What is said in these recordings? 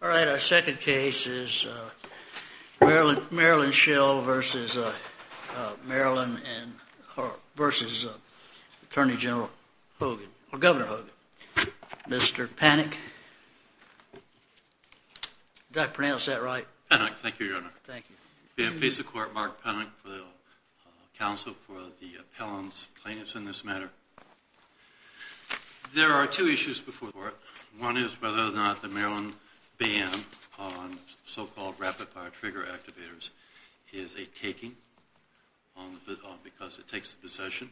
All right, our second case is Maryland Shill v. Attorney General Hogan, or Governor Hogan, v. Mr. Panik. Did I pronounce that right? Panik, thank you, Your Honor. Thank you. We have peace of court, Mark Panik, for the counsel for the appellant's plaintiffs in this matter. There are two issues before the court. One is whether or not the Maryland ban on so-called rapid-fire trigger activators is a taking because it takes the possession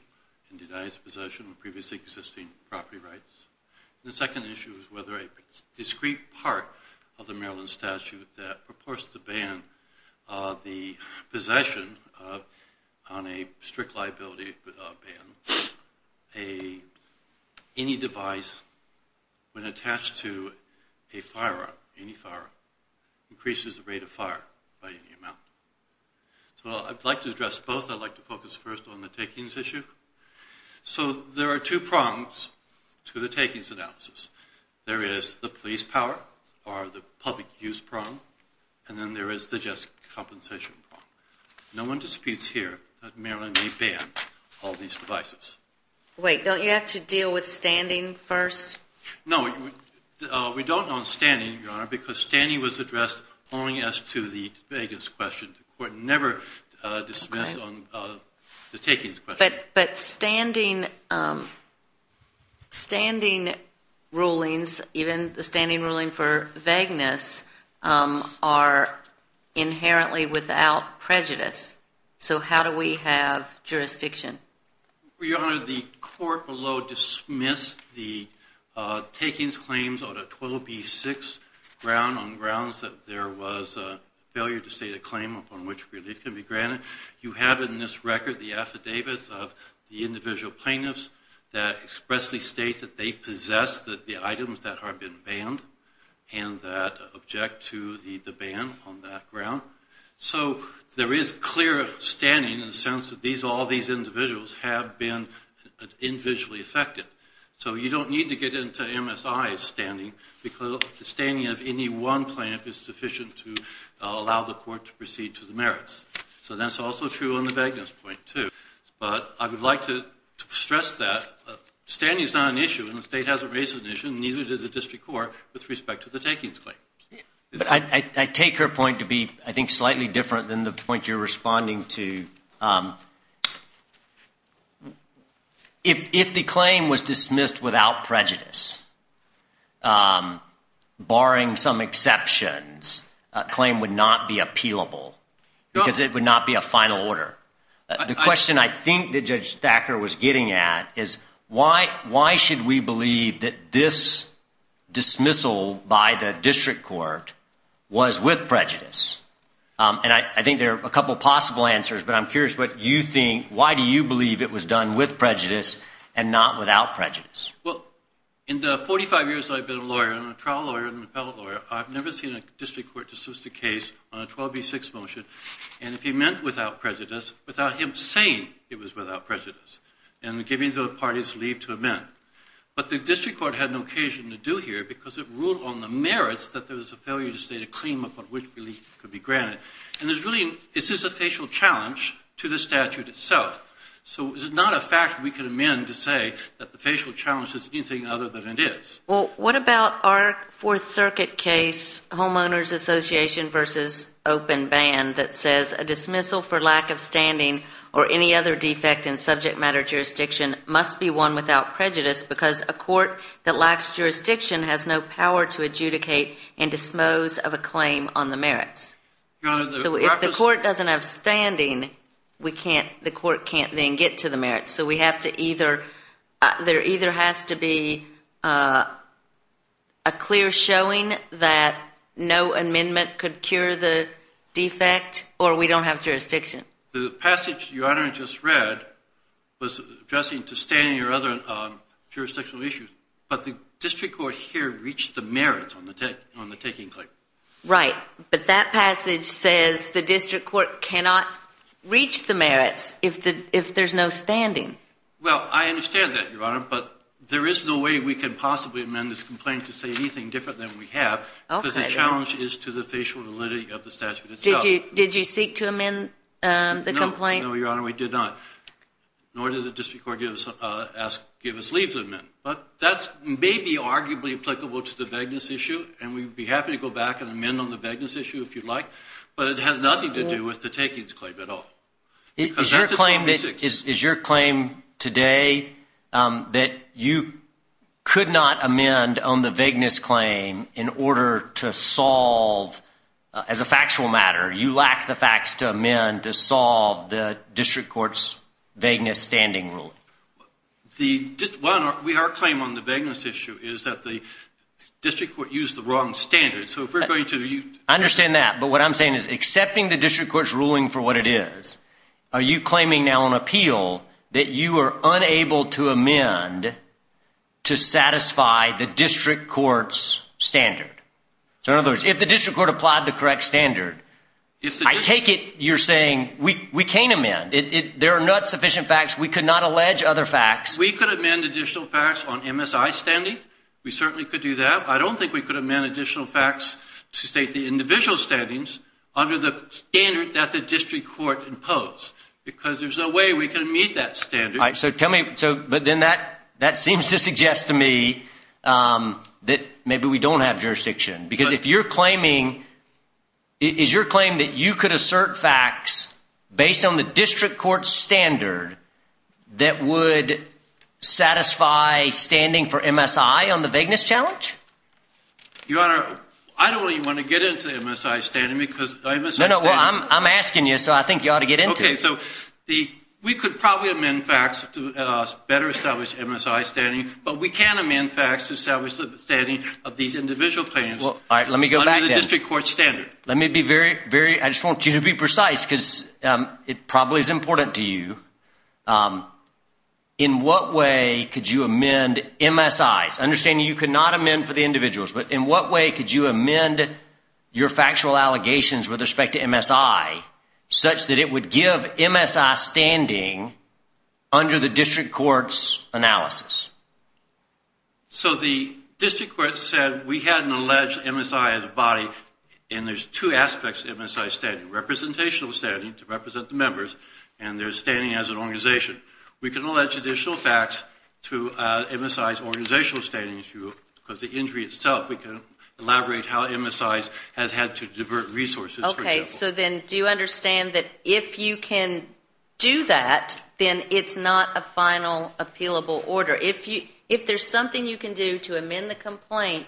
and denies the possession of previously existing property rights. And the second issue is whether a discrete part of the Maryland statute that purports to ban the possession on a strict liability ban any device when attached to a firearm, any firearm, increases the rate of fire by any amount. So I'd like to address both. I'd like to focus first on the takings issue. So there are two prongs to the takings analysis. There is the police power, or the public use prong, and then there is the just compensation prong. No one disputes here that Maryland may ban all these devices. Wait, don't you have to deal with standing first? No, we don't on standing, Your Honor, because standing was addressed only as to the vagueness question. The court never dismissed on the takings question. But standing rulings, even the standing ruling for vagueness, are inherently without prejudice. So how do we have jurisdiction? Your Honor, the court below dismissed the takings claims on a 12B6 ground on grounds that there was a failure to state a claim upon which relief can be granted. You have in this record the affidavits of the individual plaintiffs that expressly state that they possess the items that have been banned and that object to the ban on that ground. So there is clear standing in the sense that all these individuals have been individually affected. So you don't need to get into MSI's standing because the standing of any one plaintiff is sufficient to allow the court to proceed to the merits. So that's also true on the vagueness point, too. But I would like to stress that standing is not an issue, and the state hasn't raised an issue, and neither does the district court, with respect to the takings claim. I take her point to be, I think, slightly different than the point you're responding to. If the claim was dismissed without prejudice, barring some exceptions, a claim would not be appealable. Because it would not be a final order. The question I think that Judge Thacker was getting at is why should we believe that this dismissal by the district court was with prejudice? And I think there are a couple of possible answers, but I'm curious what you think, why do you believe it was done with prejudice and not without prejudice? Well, in the 45 years that I've been a lawyer, I'm a trial lawyer and an appellate lawyer, I've never seen a district court dismiss a case on a 12B6 motion, and if he meant without prejudice, without him saying it was without prejudice and giving the parties leave to amend. But the district court had no occasion to do here because it ruled on the merits that there was a failure to state a claim upon which relief could be granted. And there's really, this is a facial challenge to the statute itself. So it's not a fact we can amend to say that the facial challenge is anything other than it is. Well, what about our Fourth Circuit case, homeowners association versus open band, that says a dismissal for lack of standing or any other defect in subject matter jurisdiction must be one without prejudice because a court that lacks jurisdiction has no power to adjudicate and dispose of a claim on the merits. So if the court doesn't have standing, the court can't then get to the merits. So we have to either, there either has to be a clear showing that no amendment could cure the defect or we don't have jurisdiction. The passage Your Honor just read was addressing to standing or other jurisdictional issues, but the district court here reached the merits on the taking claim. Right, but that passage says the district court cannot reach the merits if there's no standing. Well, I understand that, Your Honor, but there is no way we can possibly amend this complaint to say anything different than we have because the challenge is to the facial validity of the statute itself. Did you seek to amend the complaint? No, Your Honor, we did not. Nor did the district court give us leave to amend. But that may be arguably applicable to the vagueness issue, and we'd be happy to go back and amend on the vagueness issue if you'd like, but it has nothing to do with the takings claim at all. Is your claim today that you could not amend on the vagueness claim in order to solve, as a factual matter, you lack the facts to amend to solve the district court's vagueness standing ruling? Well, Your Honor, our claim on the vagueness issue is that the district court used the wrong standards. I understand that, but what I'm saying is accepting the district court's ruling for what it is, are you claiming now on appeal that you are unable to amend to satisfy the district court's standard? So in other words, if the district court applied the correct standard, I take it you're saying we can't amend. There are not sufficient facts. We could not allege other facts. We could amend additional facts on MSI standing. We certainly could do that. I don't think we could amend additional facts to state the individual standings under the standard that the district court imposed because there's no way we can meet that standard. All right, so tell me, but then that seems to suggest to me that maybe we don't have jurisdiction because if you're claiming, is your claim that you could assert facts based on the district court's standard that would satisfy standing for MSI on the vagueness challenge? Your Honor, I don't even want to get into MSI standing because MSI standing. No, no, well, I'm asking you, so I think you ought to get into it. Okay, so we could probably amend facts to better establish MSI standing, but we can't amend facts to establish the standing of these individual claims under the district court's standard. Let me be very, very, I just want you to be precise because it probably is important to you. In what way could you amend MSIs? Understanding you could not amend for the individuals, but in what way could you amend your factual allegations with respect to MSI such that it would give MSI standing under the district court's analysis? So the district court said we had an alleged MSI as a body, and there's two aspects to MSI standing. Representational standing, to represent the members, and there's standing as an organization. We can allege additional facts to MSI's organizational standing issue because the injury itself, we can elaborate how MSIs has had to divert resources, for example. Okay, so then do you understand that if you can do that, then it's not a final appealable order. If there's something you can do to amend the complaint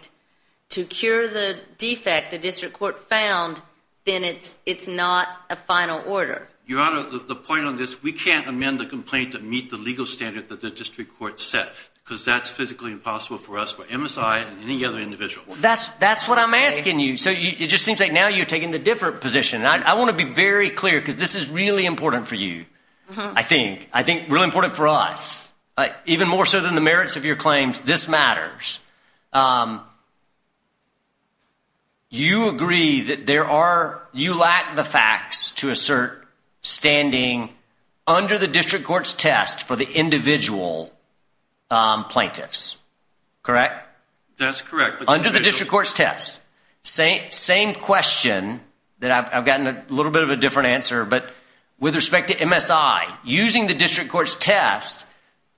to cure the defect the district court found, then it's not a final order. Your Honor, the point on this, we can't amend the complaint to meet the legal standard that the district court set because that's physically impossible for us, for MSI and any other individual. That's what I'm asking you. So it just seems like now you're taking the different position. I want to be very clear because this is really important for you, I think, I think really important for us, even more so than the merits of your claims, this matters. You agree that there are, you lack the facts to assert standing under the district court's test for the individual plaintiffs, correct? That's correct. Under the district court's test, same question that I've gotten a little bit of a different answer, but with respect to MSI, using the district court's test,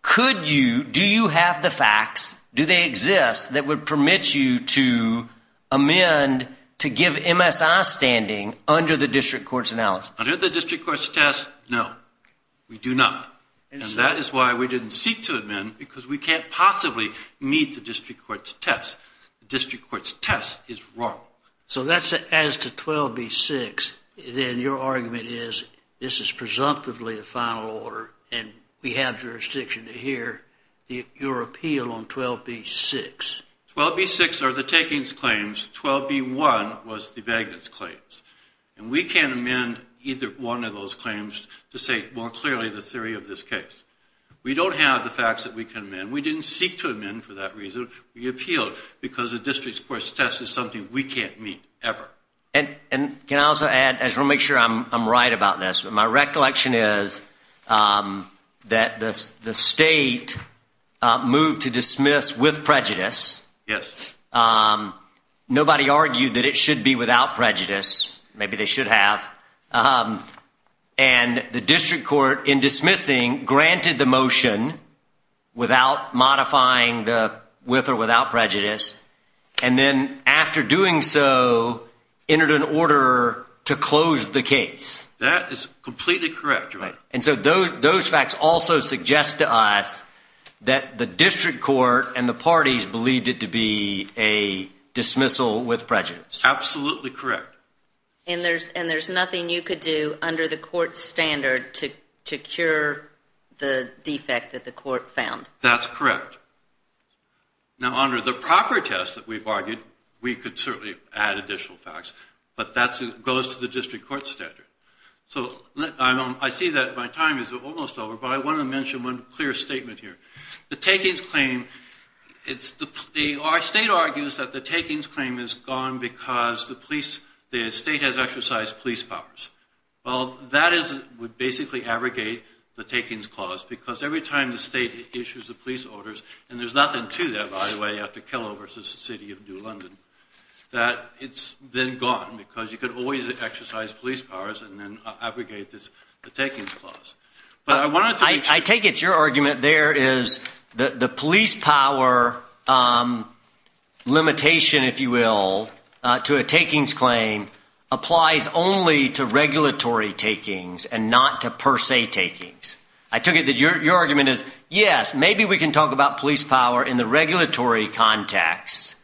could you, do you have the facts, do they exist that would permit you to amend to give MSI standing under the district court's analysis? Under the district court's test, no, we do not. And that is why we didn't seek to amend because we can't possibly meet the district court's test. The district court's test is wrong. So that's as to 12B-6, then your argument is this is presumptively the final order and we have jurisdiction to hear your appeal on 12B-6. 12B-6 are the takings claims, 12B-1 was the vagueness claims. And we can't amend either one of those claims to say more clearly the theory of this case. We don't have the facts that we can amend. We didn't seek to amend for that reason. We appealed because the district court's test is something we can't meet, ever. And can I also add, I just want to make sure I'm right about this, but my recollection is that the state moved to dismiss with prejudice. Yes. Nobody argued that it should be without prejudice. Maybe they should have. And the district court, in dismissing, granted the motion without modifying the with or without prejudice. And then after doing so, entered an order to close the case. That is completely correct. And so those facts also suggest to us that the district court and the parties believed it to be a dismissal with prejudice. Absolutely correct. And there's nothing you could do under the court's standard to cure the defect that the court found. That's correct. Now, under the proper test that we've argued, we could certainly add additional facts, but that goes to the district court's standard. So I see that my time is almost over, but I want to mention one clear statement here. The takings claim, it's the, our state argues that the takings claim is gone because the police, the state has exercised police powers. Well, that is, would basically abrogate the takings clause, because every time the state issues the police orders, and there's nothing to that, by the way, after Kellogg versus the City of New London, that it's then gone because you could always exercise police powers and then abrogate the takings clause. I take it your argument there is the police power limitation, if you will, to a takings claim applies only to regulatory takings and not to per se takings. I took it that your argument is, yes, maybe we can talk about police power in the regulatory context,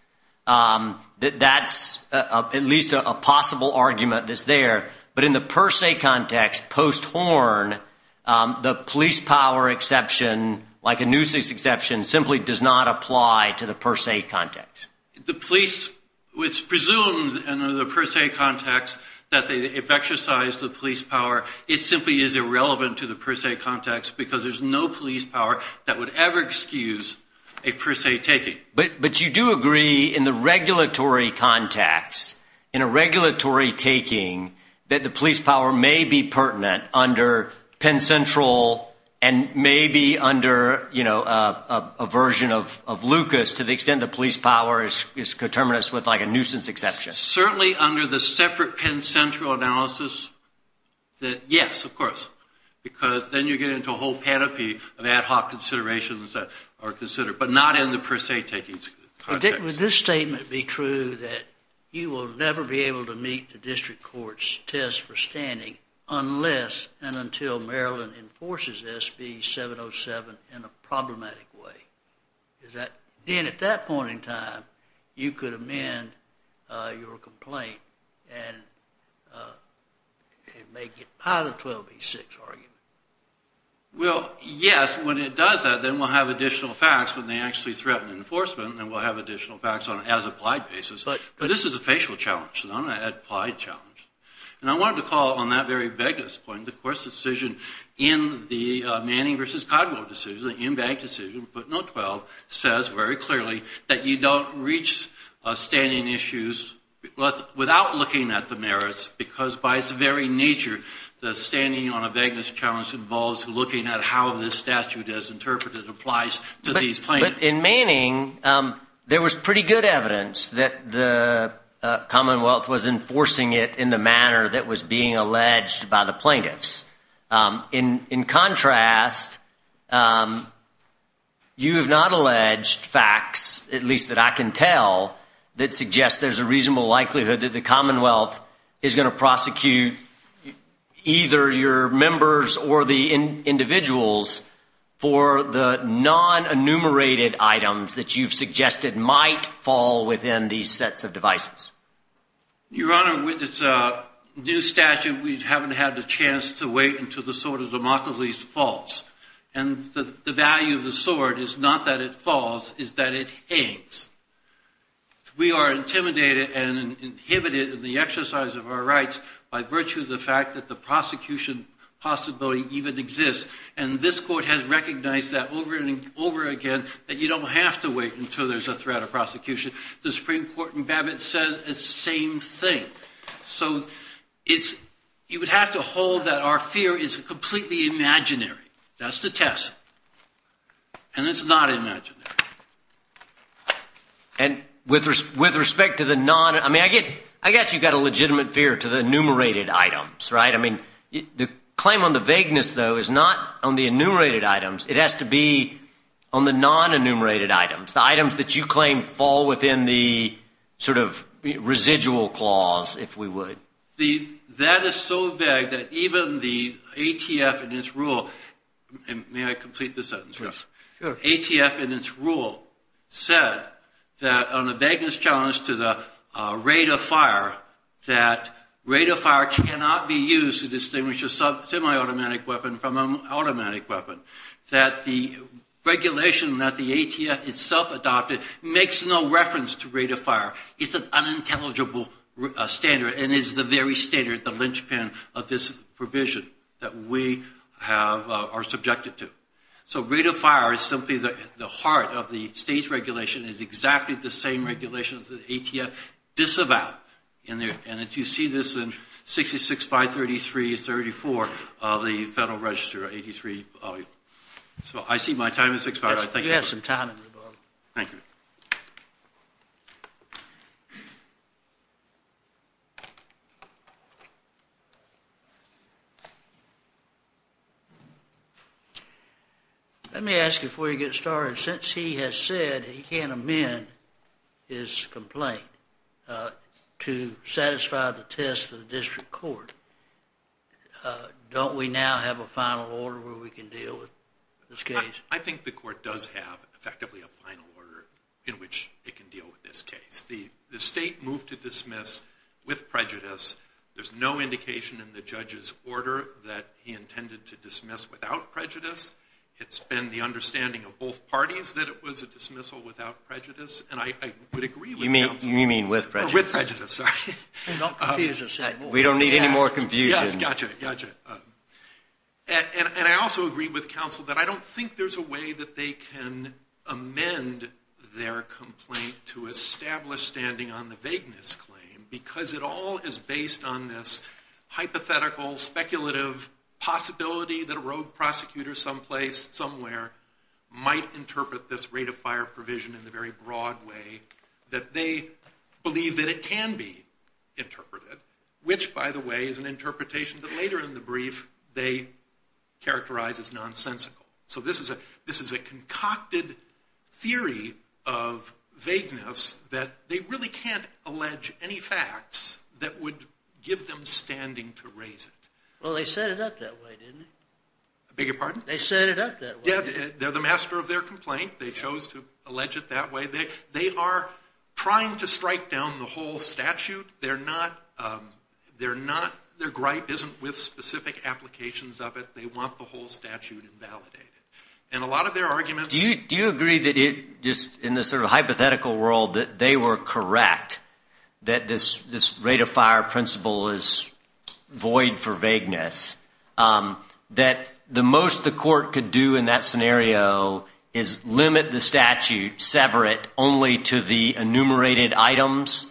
that that's at least a possible argument that's there. But in the per se context, posthorn, the police power exception, like a nuisance exception, simply does not apply to the per se context. The police, it's presumed in the per se context that if they exercise the police power, it simply is irrelevant to the per se context, because there's no police power that would ever excuse a per se taking. But you do agree in the regulatory context, in a regulatory taking, that the police power may be pertinent under Penn Central and may be under a version of Lucas to the extent the police power is determinist with like a nuisance exception. Certainly under the separate Penn Central analysis, yes, of course, because then you get into a whole panoply of ad hoc considerations that are considered, but not in the per se taking context. Would this statement be true that you will never be able to meet the district court's test for standing unless and until Maryland enforces SB 707 in a problematic way? Is that, then at that point in time, you could amend your complaint and make it part of the 1286 argument? Well, yes. When it does that, then we'll have additional facts when they actually threaten enforcement, and we'll have additional facts on an as-applied basis. But this is a facial challenge, not an applied challenge. And I wanted to call on that very vagueness point. Of course, the decision in the Manning v. Codwell decision, the in-bank decision, but not 12, says very clearly that you don't reach standing issues without looking at the merits, because by its very nature, the standing on a vagueness challenge involves looking at how this statute, as interpreted, applies to these plaintiffs. But in Manning, there was pretty good evidence that the Commonwealth was enforcing it in the manner that was being alleged by the plaintiffs. In contrast, you have not alleged facts, at least that I can tell, that suggest there's a reasonable likelihood that the Commonwealth is going to prosecute either your members or the individuals for the non-enumerated items that you've suggested might fall within these sets of devices. Your Honor, with this new statute, we haven't had the chance to wait until the Sword of Democles falls. And the value of the sword is not that it falls, it's that it hangs. We are intimidated and inhibited in the exercise of our rights by virtue of the fact that the prosecution possibility even exists. And this Court has recognized that over and over again, that you don't have to wait until there's a threat of prosecution. The Supreme Court in Babbitt says the same thing. So you would have to hold that our fear is completely imaginary. That's the test. And it's not imaginary. And with respect to the non—I mean, I guess you've got a legitimate fear to the enumerated items, right? I mean, the claim on the vagueness, though, is not on the enumerated items. It has to be on the non-enumerated items, the items that you claim fall within the sort of residual clause if we would. That is so vague that even the ATF in its rule—may I complete the sentence? Yes, sure. ATF in its rule said that on the vagueness challenge to the rate of fire, that rate of fire cannot be used to distinguish a semi-automatic weapon from an automatic weapon, that the regulation that the ATF itself adopted makes no reference to rate of fire. It's an unintelligible standard and is the very standard, the linchpin of this provision that we are subjected to. So rate of fire is simply the heart of the state's regulation. It's exactly the same regulation that the ATF disavowed. And you see this in 66-533-34 of the Federal Register 83. So I see my time has expired. You have some time in the room. Thank you. Let me ask you before you get started. Since he has said he can't amend his complaint to satisfy the test of the district court, don't we now have a final order where we can deal with this case? I think the court does have effectively a final order in which it can deal with this case. The state moved to dismiss with prejudice. There's no indication in the judge's order that he intended to dismiss without prejudice. It's been the understanding of both parties that it was a dismissal without prejudice. And I would agree with counsel. You mean with prejudice? With prejudice, sorry. We don't need any more confusion. Yes, gotcha, gotcha. And I also agree with counsel that I don't think there's a way that they can amend their complaint to establish standing on the vagueness claim because it all is based on this hypothetical speculative possibility that a rogue prosecutor someplace, somewhere, might interpret this rate of fire provision in the very broad way that they believe that it can be interpreted, which, by the way, is an interpretation that later in the brief they characterize as nonsensical. So this is a concocted theory of vagueness that they really can't allege any facts that would give them standing to raise it. Well, they set it up that way, didn't they? Beg your pardon? They set it up that way. Yeah, they're the master of their complaint. They chose to allege it that way. They are trying to strike down the whole statute. Their gripe isn't with specific applications of it. They want the whole statute invalidated. And a lot of their arguments— Do you agree that just in this sort of hypothetical world that they were correct, that this rate of fire principle is void for vagueness, that the most the court could do in that scenario is limit the statute, sever it only to the enumerated items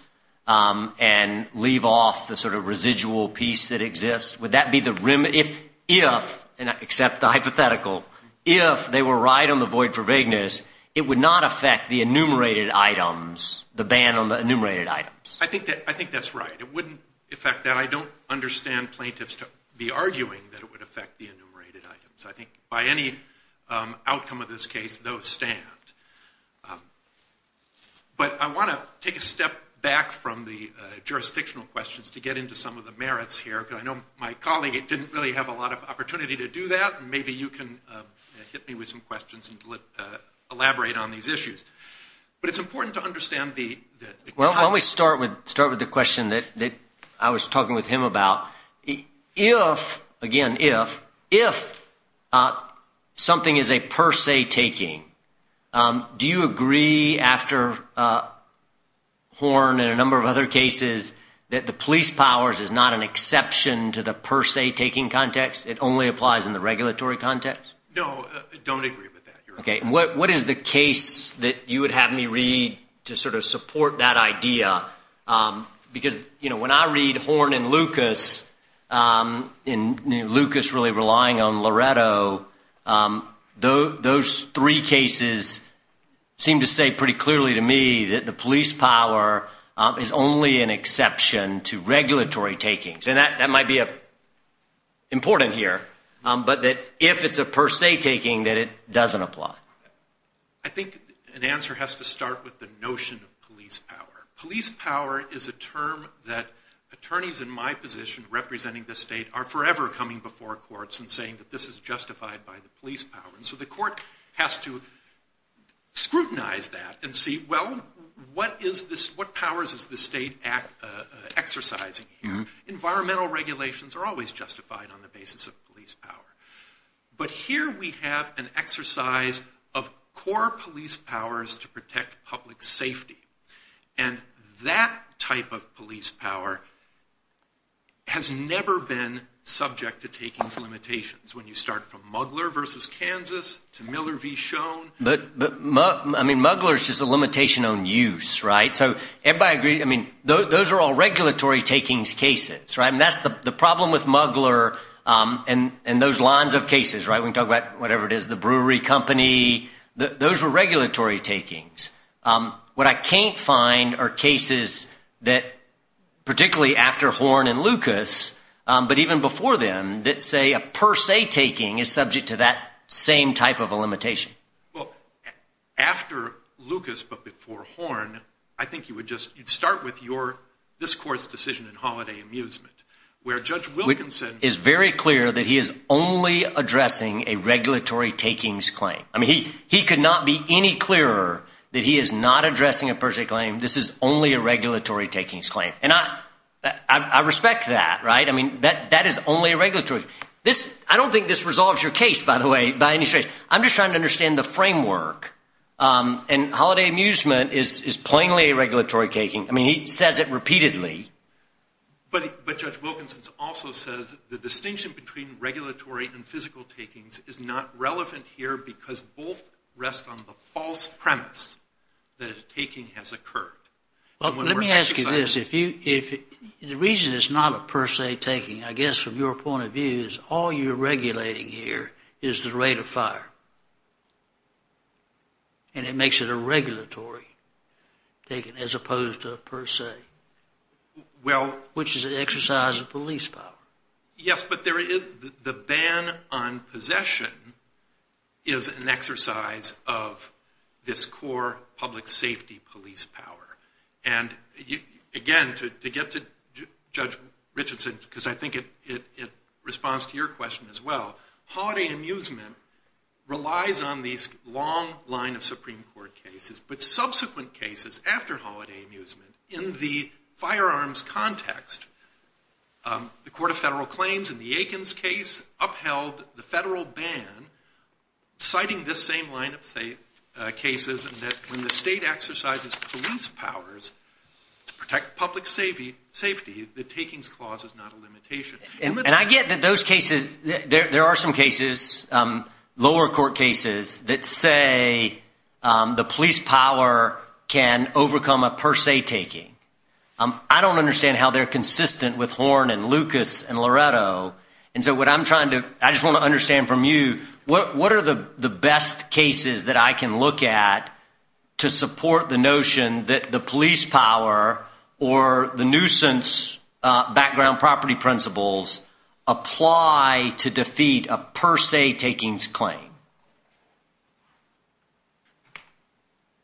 and leave off the sort of residual piece that exists? Would that be the—if, and accept the hypothetical, if they were right on the void for vagueness, it would not affect the enumerated items, the ban on the enumerated items? I think that's right. It wouldn't affect that. I don't understand plaintiffs to be arguing that it would affect the enumerated items. I think by any outcome of this case, those stand. But I want to take a step back from the jurisdictional questions to get into some of the merits here, because I know my colleague didn't really have a lot of opportunity to do that, and maybe you can hit me with some questions and elaborate on these issues. But it's important to understand the— Well, let me start with the question that I was talking with him about. If, again, if, if something is a per se taking, do you agree after Horn and a number of other cases that the police powers is not an exception to the per se taking context? It only applies in the regulatory context? No, I don't agree with that. Okay, and what is the case that you would have me read to sort of support that idea? Because, you know, when I read Horn and Lucas, and Lucas really relying on Loretto, those three cases seem to say pretty clearly to me that the police power is only an exception to regulatory takings. And that might be important here, but that if it's a per se taking, that it doesn't apply. I think an answer has to start with the notion of police power. Police power is a term that attorneys in my position representing the state are forever coming before courts and saying that this is justified by the police power. And so the court has to scrutinize that and see, well, what is this, what powers is the state exercising here? Environmental regulations are always justified on the basis of police power. But here we have an exercise of core police powers to protect public safety. And that type of police power has never been subject to takings limitations. When you start from Mugler versus Kansas to Miller v. Schoen. But, I mean, Mugler is just a limitation on use, right? So everybody agrees, I mean, those are all regulatory takings cases, right? And that's the problem with Mugler and those lines of cases, right? We can talk about whatever it is, the brewery company. Those were regulatory takings. What I can't find are cases that, particularly after Horn and Lucas, but even before them, that say a per se taking is subject to that same type of a limitation. Well, after Lucas but before Horn, I think you would just start with your, this court's decision in Holiday Amusement, where Judge Wilkinson is very clear that he is only addressing a regulatory takings claim. I mean, he could not be any clearer that he is not addressing a per se claim. This is only a regulatory takings claim. And I respect that, right? I mean, that is only a regulatory. I don't think this resolves your case, by the way, by any stretch. I'm just trying to understand the framework. And Holiday Amusement is plainly a regulatory taking. I mean, he says it repeatedly. But Judge Wilkinson also says the distinction between regulatory and physical takings is not relevant here because both rest on the false premise that a taking has occurred. Well, let me ask you this. The reason it's not a per se taking, I guess, from your point of view, is all you're regulating here is the rate of fire. And it makes it a regulatory taking as opposed to a per se, which is an exercise of police power. Yes, but the ban on possession is an exercise of this core public safety police power. And again, to get to Judge Richardson, because I think it responds to your question as well, Holiday Amusement relies on these long line of Supreme Court cases. But subsequent cases after Holiday Amusement, in the firearms context, the Court of Federal Claims in the Aikens case upheld the federal ban citing this same line of cases that when the state exercises police powers to protect public safety, the takings clause is not a limitation. And I get that those cases, there are some cases, lower court cases, that say the police power can overcome a per se taking. I don't understand how they're consistent with Horne and Lucas and Loretto. And so what I'm trying to, I just want to understand from you, what are the best cases that I can look at to support the notion that the police power or the nuisance background property principles apply to defeat a per se takings claim?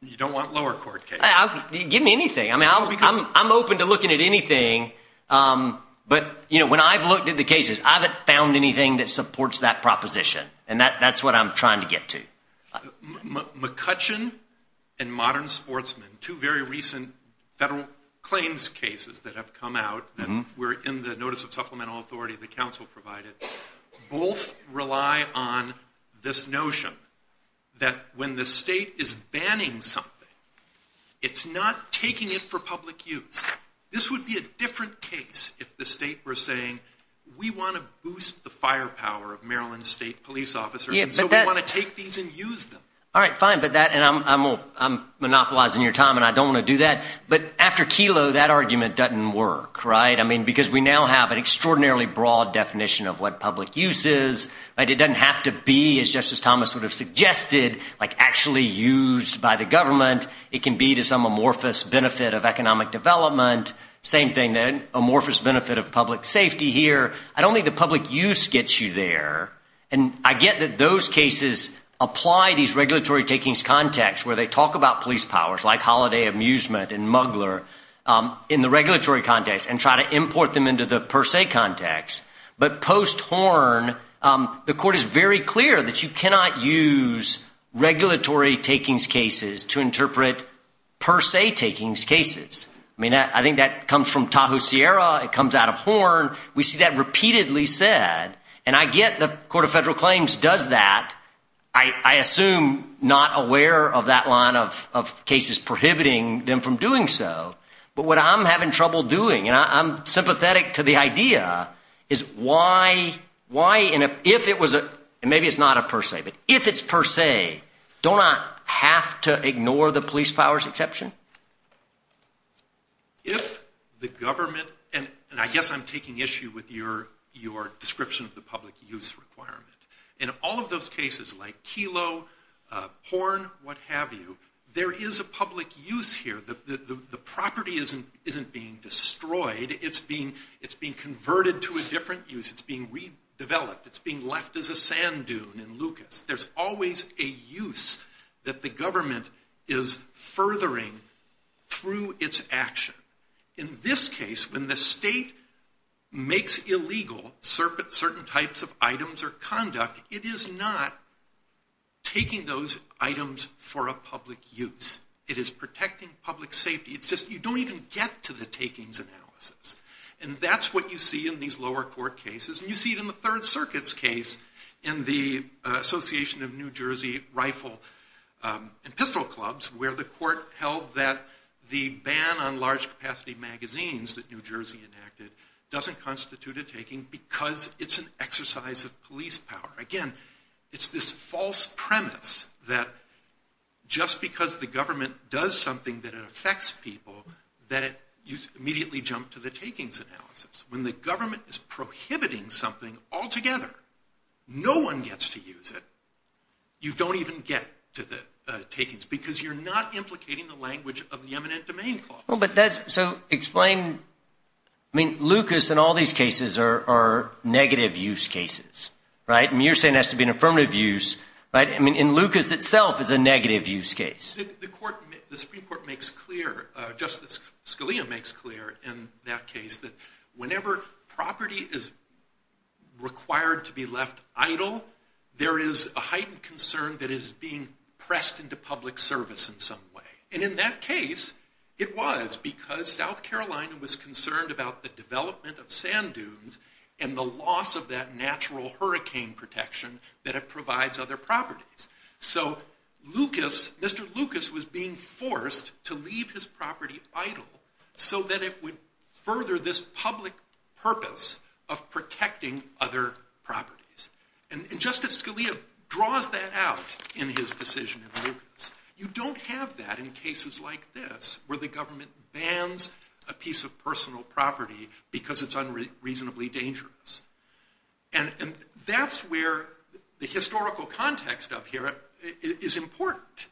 You don't want lower court cases? Give me anything. I'm open to looking at anything. But when I've looked at the cases, I haven't found anything that supports that proposition. And that's what I'm trying to get to. McCutcheon and Modern Sportsman, two very recent federal claims cases that have come out, that were in the Notice of Supplemental Authority the Council provided, both rely on this notion that when the state is banning something, it's not taking it for public use. This would be a different case if the state were saying, we want to boost the firepower of Maryland state police officers, and so we want to take these and use them. I'm monopolizing your time, and I don't want to do that. But after Kelo, that argument doesn't work. Because we now have an extraordinarily broad definition of what public use is. It doesn't have to be, as Justice Thomas would have suggested, actually used by the government. It can be to some amorphous benefit of economic development. Same thing, amorphous benefit of public safety here. I don't think the public use gets you there. And I get that those cases apply these regulatory takings context, where they talk about police powers, like holiday amusement and muggler, in the regulatory context, and try to import them into the per se context. But post Horn, the court is very clear that you cannot use regulatory takings cases to interpret per se takings cases. I think that comes from Tahoe Sierra. It comes out of Horn. We see that repeatedly said. And I get the Court of Federal Claims does that. I assume not aware of that line of cases prohibiting them from doing so. But what I'm having trouble doing, and I'm sympathetic to the idea, is why if it was a, and maybe it's not a per se, but if it's per se, don't I have to ignore the police powers exception? If the government, and I guess I'm taking issue with your description of the public use requirement. In all of those cases, like Kelo, Horn, what have you, there is a public use here. The property isn't being destroyed. It's being converted to a different use. It's being redeveloped. It's being left as a sand dune in Lucas. There's always a use that the government is furthering through its action. In this case, when the state makes illegal certain types of items or conduct, it is not taking those items for a public use. It is protecting public safety. It's just you don't even get to the takings analysis. And that's what you see in these lower court cases. And you see it in the Third Association of New Jersey Rifle and Pistol Clubs where the court held that the ban on large capacity magazines that New Jersey enacted doesn't constitute a taking because it's an exercise of police power. Again, it's this false premise that just because the government does something that it affects people that you immediately jump to the takings analysis. When the government is prohibiting something altogether, no one gets to use it, you don't even get to the takings because you're not implicating the language of the Eminent Domain Clause. So explain, I mean, Lucas and all these cases are negative use cases, right? And you're saying it has to be an affirmative use, right? And Lucas itself is a negative use case. The Supreme Court makes clear, Justice Scalia makes clear in that case that whenever property is required to be left idle, there is a heightened concern that is being pressed into public service in some way. And in that case, it was because South Carolina was concerned about the development of sand dunes and the loss of that natural hurricane protection that it provides other properties. So Lucas, Mr. Lucas was being forced to leave his property idle so that it would further this public purpose of protecting other properties. And Justice Scalia draws that out in his decision in Lucas. You don't have that in cases like this where the government bans a piece of personal property because it's unreasonably dangerous. And that's where the historical context of here is important.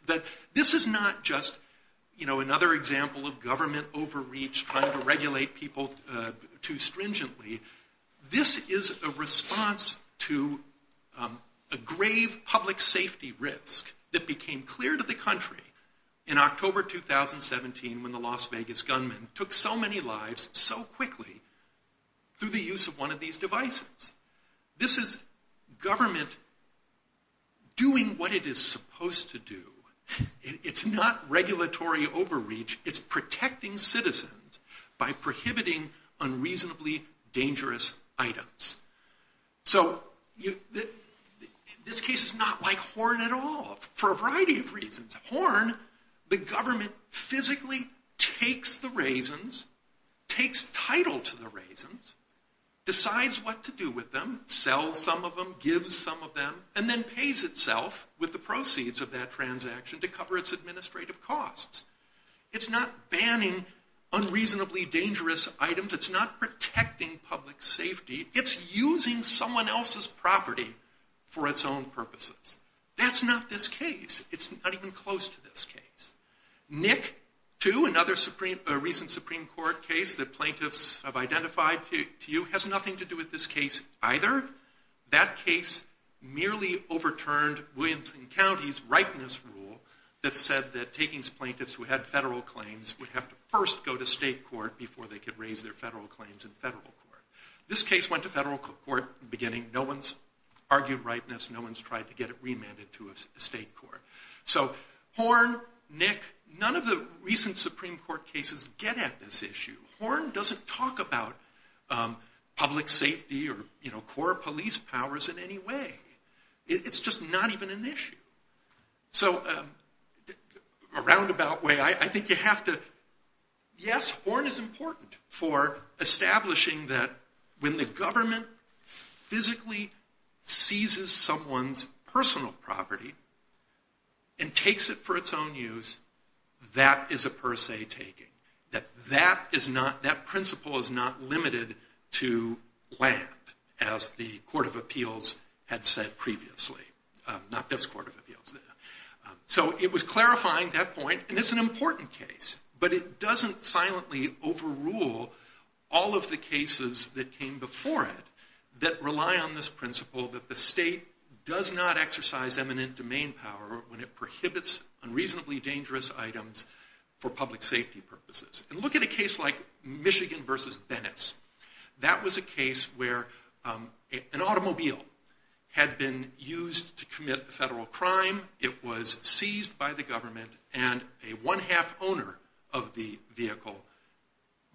This is not just another example of government overreach trying to regulate people too stringently. This is a response to a grave public safety risk that became clear to the country in October 2017 when the Las Vegas gunman took so many lives so quickly through the use of one of these devices. This is government doing what it is supposed to do. It's not regulatory overreach. It's protecting citizens by prohibiting unreasonably dangerous items. So this case is not like Horn at all for a variety of reasons. Horn, the government physically takes the raisins, takes title to the raisins, decides what to do with them, sells some of them, gives some of them, and then pays itself with the proceeds of that transaction to cover its administrative costs. It's not banning unreasonably dangerous items. It's not protecting public safety. It's using someone else's property for its own purposes. That's not this case. It's not even close to this case. Nick, too, another recent Supreme Court case that plaintiffs have identified to you, has nothing to do with this case either. That case merely overturned Clinton County's ripeness rule that said that takings plaintiffs who had federal claims would have to first go to state court before they could raise their federal claims in federal court. This case went to federal court in the beginning. No one's argued ripeness. No one's tried to get it remanded to a state court. So Horn, Nick, none of the recent Supreme Court cases get at this issue. Horn doesn't talk about public safety or core police powers in any way. It's just not even an issue. So a roundabout way, I think you have to yes, Horn is important for establishing that when the government physically seizes someone's personal property and takes it for its own use, that is a per se taking. That that is not that principle is not limited to land, as the Court of Appeals had said previously. Not this Court of Appeals. So it was clarifying that point, and it's an important case, but it doesn't silently overrule all of the cases that came before it that rely on this principle that the state does not exercise eminent domain power when it prohibits unreasonably dangerous items for public safety purposes. And look at a case like Michigan v. Bennis. That was a case where an automobile had been used to commit federal crime. It was seized by the government and a one-half owner of the vehicle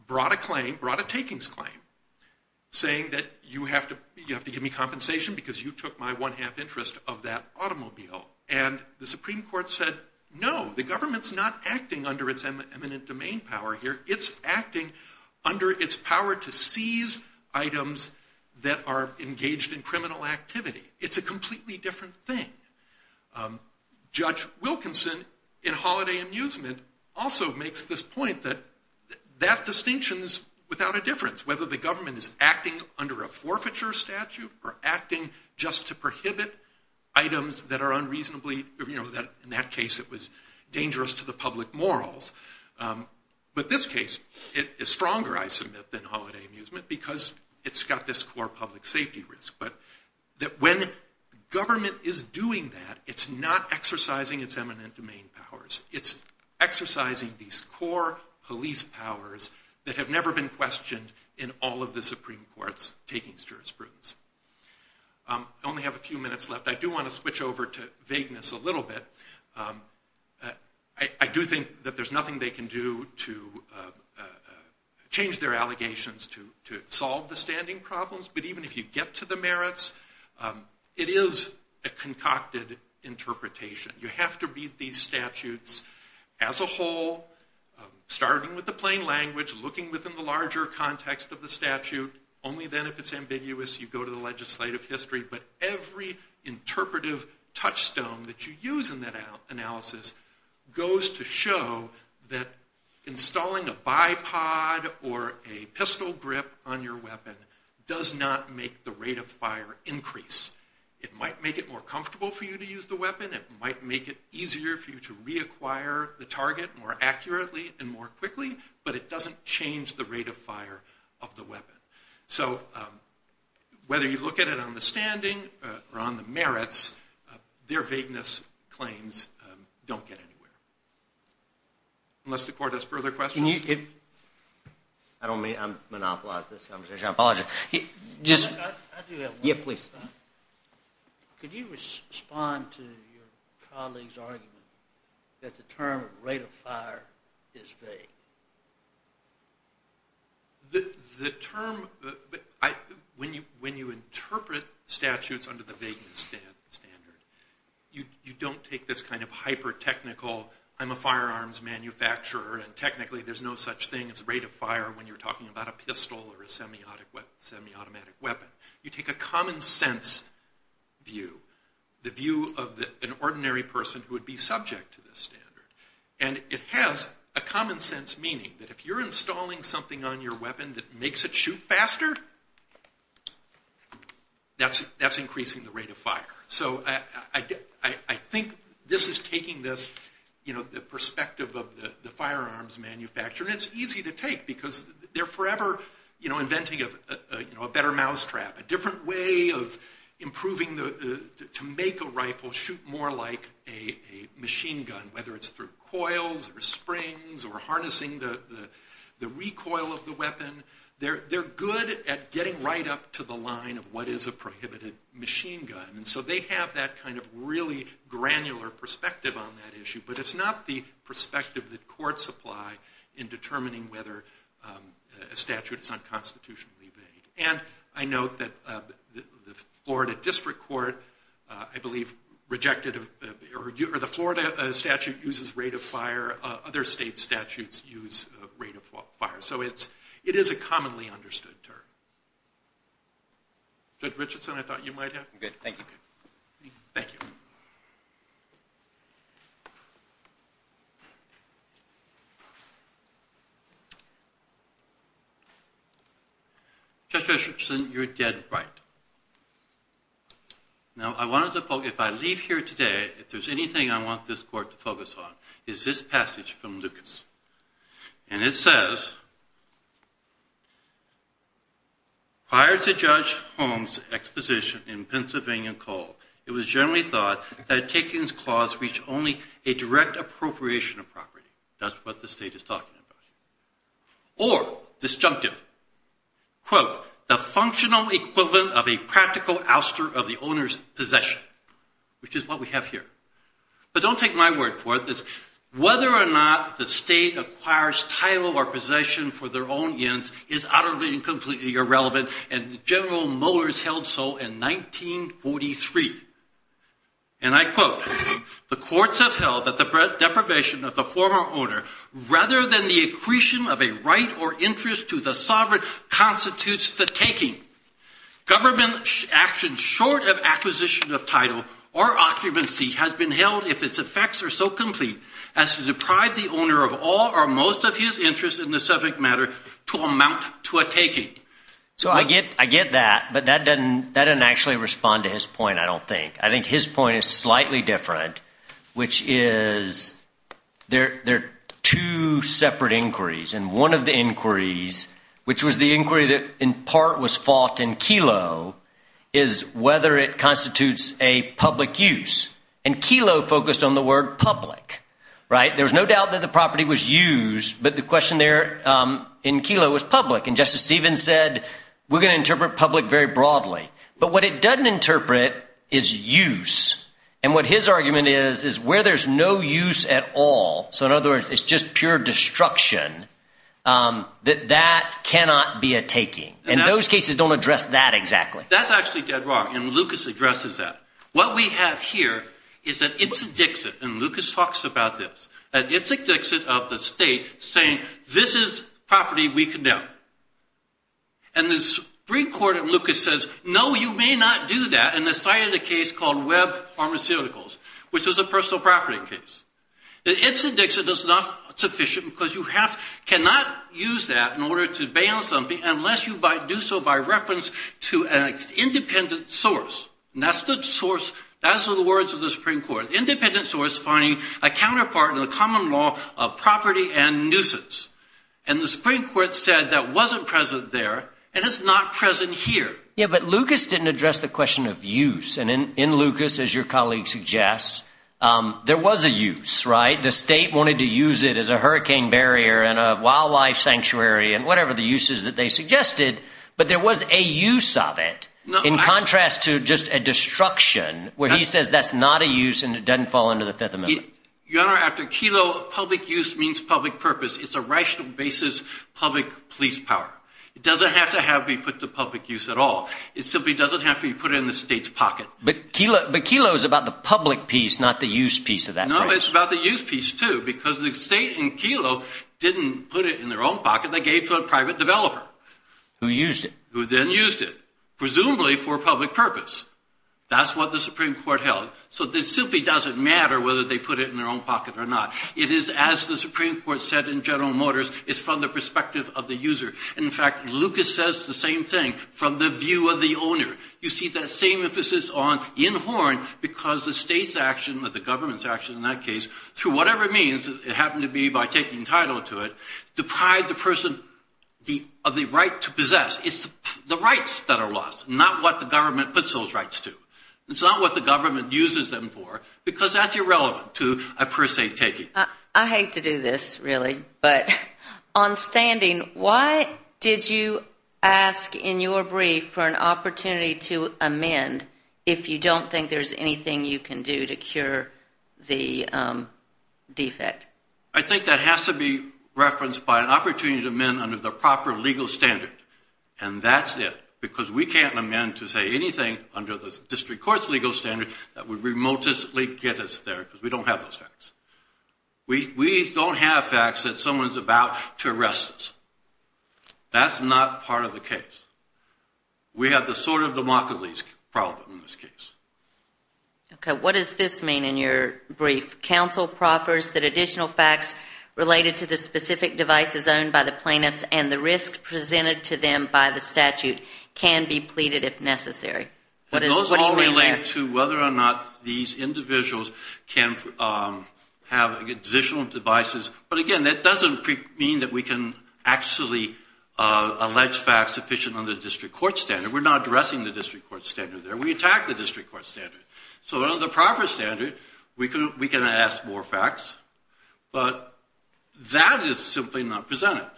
brought a claim, brought a takings claim, saying that you have to give me compensation because you took my one-half interest of that automobile. And the Supreme Court said, no, the government's not acting under its eminent domain power here. It's acting under its power to seize items that are engaged in criminal activity. It's a completely different thing. Judge Wilkinson, in Holiday Amusement, also makes this point that that distinction is without a difference, whether the government is acting under a forfeiture statute or acting just to prohibit items that are unreasonably, you know, in that case it was dangerous to the public morals. But this case is stronger, I submit, than Holiday Amusement because it's got this core public safety risk. When government is doing that, it's not exercising its eminent domain powers. It's exercising these core police powers that have never been questioned in all of the Supreme Court's takings jurisprudence. I only have a few minutes left. I do want to switch over to vagueness a little bit. I do think that there's nothing they can do to change their allegations to solve the standing problems. But even if you get to the merits, it is a concocted interpretation. You have to beat these statutes as a whole, starting with the plain language, looking within the larger context of the statute. Only then, if it's ambiguous, you go to the legislative history. But every interpretive touchstone that you use in that analysis goes to show that installing a bipod or a pistol grip on your weapon does not make the rate of fire increase. It might make it more comfortable for you to use the weapon. It might make it easier for you to reacquire the target more accurately and more quickly, but it doesn't change the rate of fire of the weapon. So whether you look at it on the standing or on the merits, their vagueness claims don't get anywhere. Unless the court has further questions. I don't mean to monopolize this conversation. I apologize. I do have one. Could you respond to your colleague's argument that the term rate of fire is vague? The term... When you interpret statutes under the vagueness standard, you don't take this kind of hyper-technical I'm a firearms manufacturer and technically there's no such thing as rate of fire when you're talking about a pistol or a semi-automatic weapon. You take a common sense view. The view of an ordinary person who would be subject to this standard. And it has a common sense meaning that if you're installing something on your weapon that makes it shoot faster, that's increasing the rate of fire. I think this is taking the perspective of the firearms manufacturer and it's easy to take because they're forever inventing a better mousetrap, a different way of improving to make a rifle shoot more like a machine gun. Whether it's through coils or springs or harnessing the they're good at getting right up to the line of what is a prohibited machine gun. And so they have that kind of really granular perspective on that issue. But it's not the perspective that courts apply in determining whether a statute is unconstitutionally vague. And I note that the Florida District Court I believe rejected, or the Florida statute uses rate of fire. Other state statutes use rate of fire. So it is a commonly understood term. Judge Richardson, I thought you might have. Thank you. Judge Richardson, you're dead right. Now I wanted to focus, if I leave here today if there's anything I want this court to focus on is this passage from Judge Holmes. It says, prior to Judge Holmes' exposition in Pennsylvania Court, it was generally thought that a takings clause reached only a direct appropriation of property. That's what the state is talking about. Or, disjunctive, quote, the functional equivalent of a practical ouster of the owner's possession. Which is what we have here. But don't take my word for it. Whether or not the state acquires title or possession for their own ends is utterly and completely irrelevant. And General Mowers held so in 1943. And I quote, the courts have held that the deprivation of the former owner rather than the accretion of a right or interest to the sovereign constitutes the taking. Government actions short of acquisition of title or occupancy has been held if its effects are so complete as to deprive the owner of all or most of his interest in the subject matter to amount to a taking. So I get that, but that doesn't actually respond to his point, I don't think. I think his point is slightly different, which is there are two separate inquiries and one of the inquiries, which was the inquiry that in part was fought in Kelo, is whether it constitutes a taking. Kelo focused on the word public. There was no doubt that the property was used, but the question there in Kelo was public. And Justice Stevens said, we're going to interpret public very broadly. But what it doesn't interpret is use. And what his argument is, is where there's no use at all, so in other words, it's just pure destruction, that that cannot be a taking. And those cases don't address that exactly. That's actually dead wrong. And Lucas addresses that. What we have here is that Ipsit-Dixit, and Lucas talks about this, that Ipsit-Dixit of the state saying, this is property we condemn. And the Supreme Court in Lucas says, no, you may not do that in the site of the case called Webb Pharmaceuticals, which was a personal property case. The Ipsit-Dixit is not sufficient because you cannot use that in order to ban something unless you do so by reference to an independent source. And that's the words of the Supreme Court. Independent source finding a counterpart in the common law of property and nuisance. And the Supreme Court said that wasn't present there, and it's not present here. Yeah, but Lucas didn't address the question of use. And in Lucas, as your colleague suggests, there was a use, right? The state wanted to use it as a hurricane barrier and a wildlife sanctuary and whatever the use is that they suggested, but there was a use of it in contrast to just a destruction where he says that's not a use and it doesn't fall under the Fifth Amendment. Your Honor, after Kelo, public use means public purpose. It's a rational basis, public police power. It doesn't have to be put to public use at all. It simply doesn't have to be put in the state's pocket. But Kelo is about the public piece, not the use piece of that. No, it's about the use piece, too, because the state in Kelo didn't put it in their own pocket. They gave it to a private developer. Who used it. Who then used it. Presumably for public purpose. That's what the Supreme Court held. So it simply doesn't matter whether they put it in their own pocket or not. It is as the Supreme Court said in General Motors, it's from the perspective of the user. In fact, Lucas says the same thing from the view of the owner. You see that same emphasis on in horn because the state's action, or the government's action in that case, through whatever means, it happened to be by taking title to it, deprived the person of the right to possess. It's the rights that are lost, not what the government puts those rights to. It's not what the government uses them for because that's irrelevant to a per se taking. I hate to do this, really, but on standing, why did you ask in your brief for an opportunity to amend if you don't think there's anything you can do to cure the defect? I think that has to be referenced by an opportunity to amend. An opportunity to amend under the proper legal standard. And that's it. Because we can't amend to say anything under the district court's legal standard that would remotestly get us there because we don't have those facts. We don't have facts that someone's about to arrest us. That's not part of the case. We have the sort of democracy problem in this case. What does this mean in your brief? Counsel proffers that additional facts related to the specific devices owned by the plaintiffs and the risk presented to them by the statute can be pleaded if necessary. Those all relate to whether or not these individuals can have additional devices. But again, that doesn't mean that we can actually allege facts sufficient under the district court standard. We're not addressing the district court standard there. We attack the district court standard. So under the proper standard, we can ask for facts. But that is simply not presented.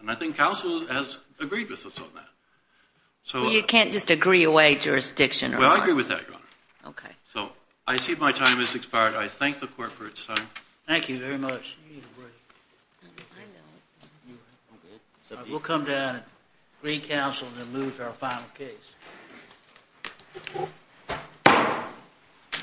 And I think counsel has agreed with us on that. You can't just agree away jurisdiction or what? Well, I agree with that, Your Honor. So I see my time has expired. I thank the court for its time. Thank you very much. We'll come down and agree counsel and then move to our final case.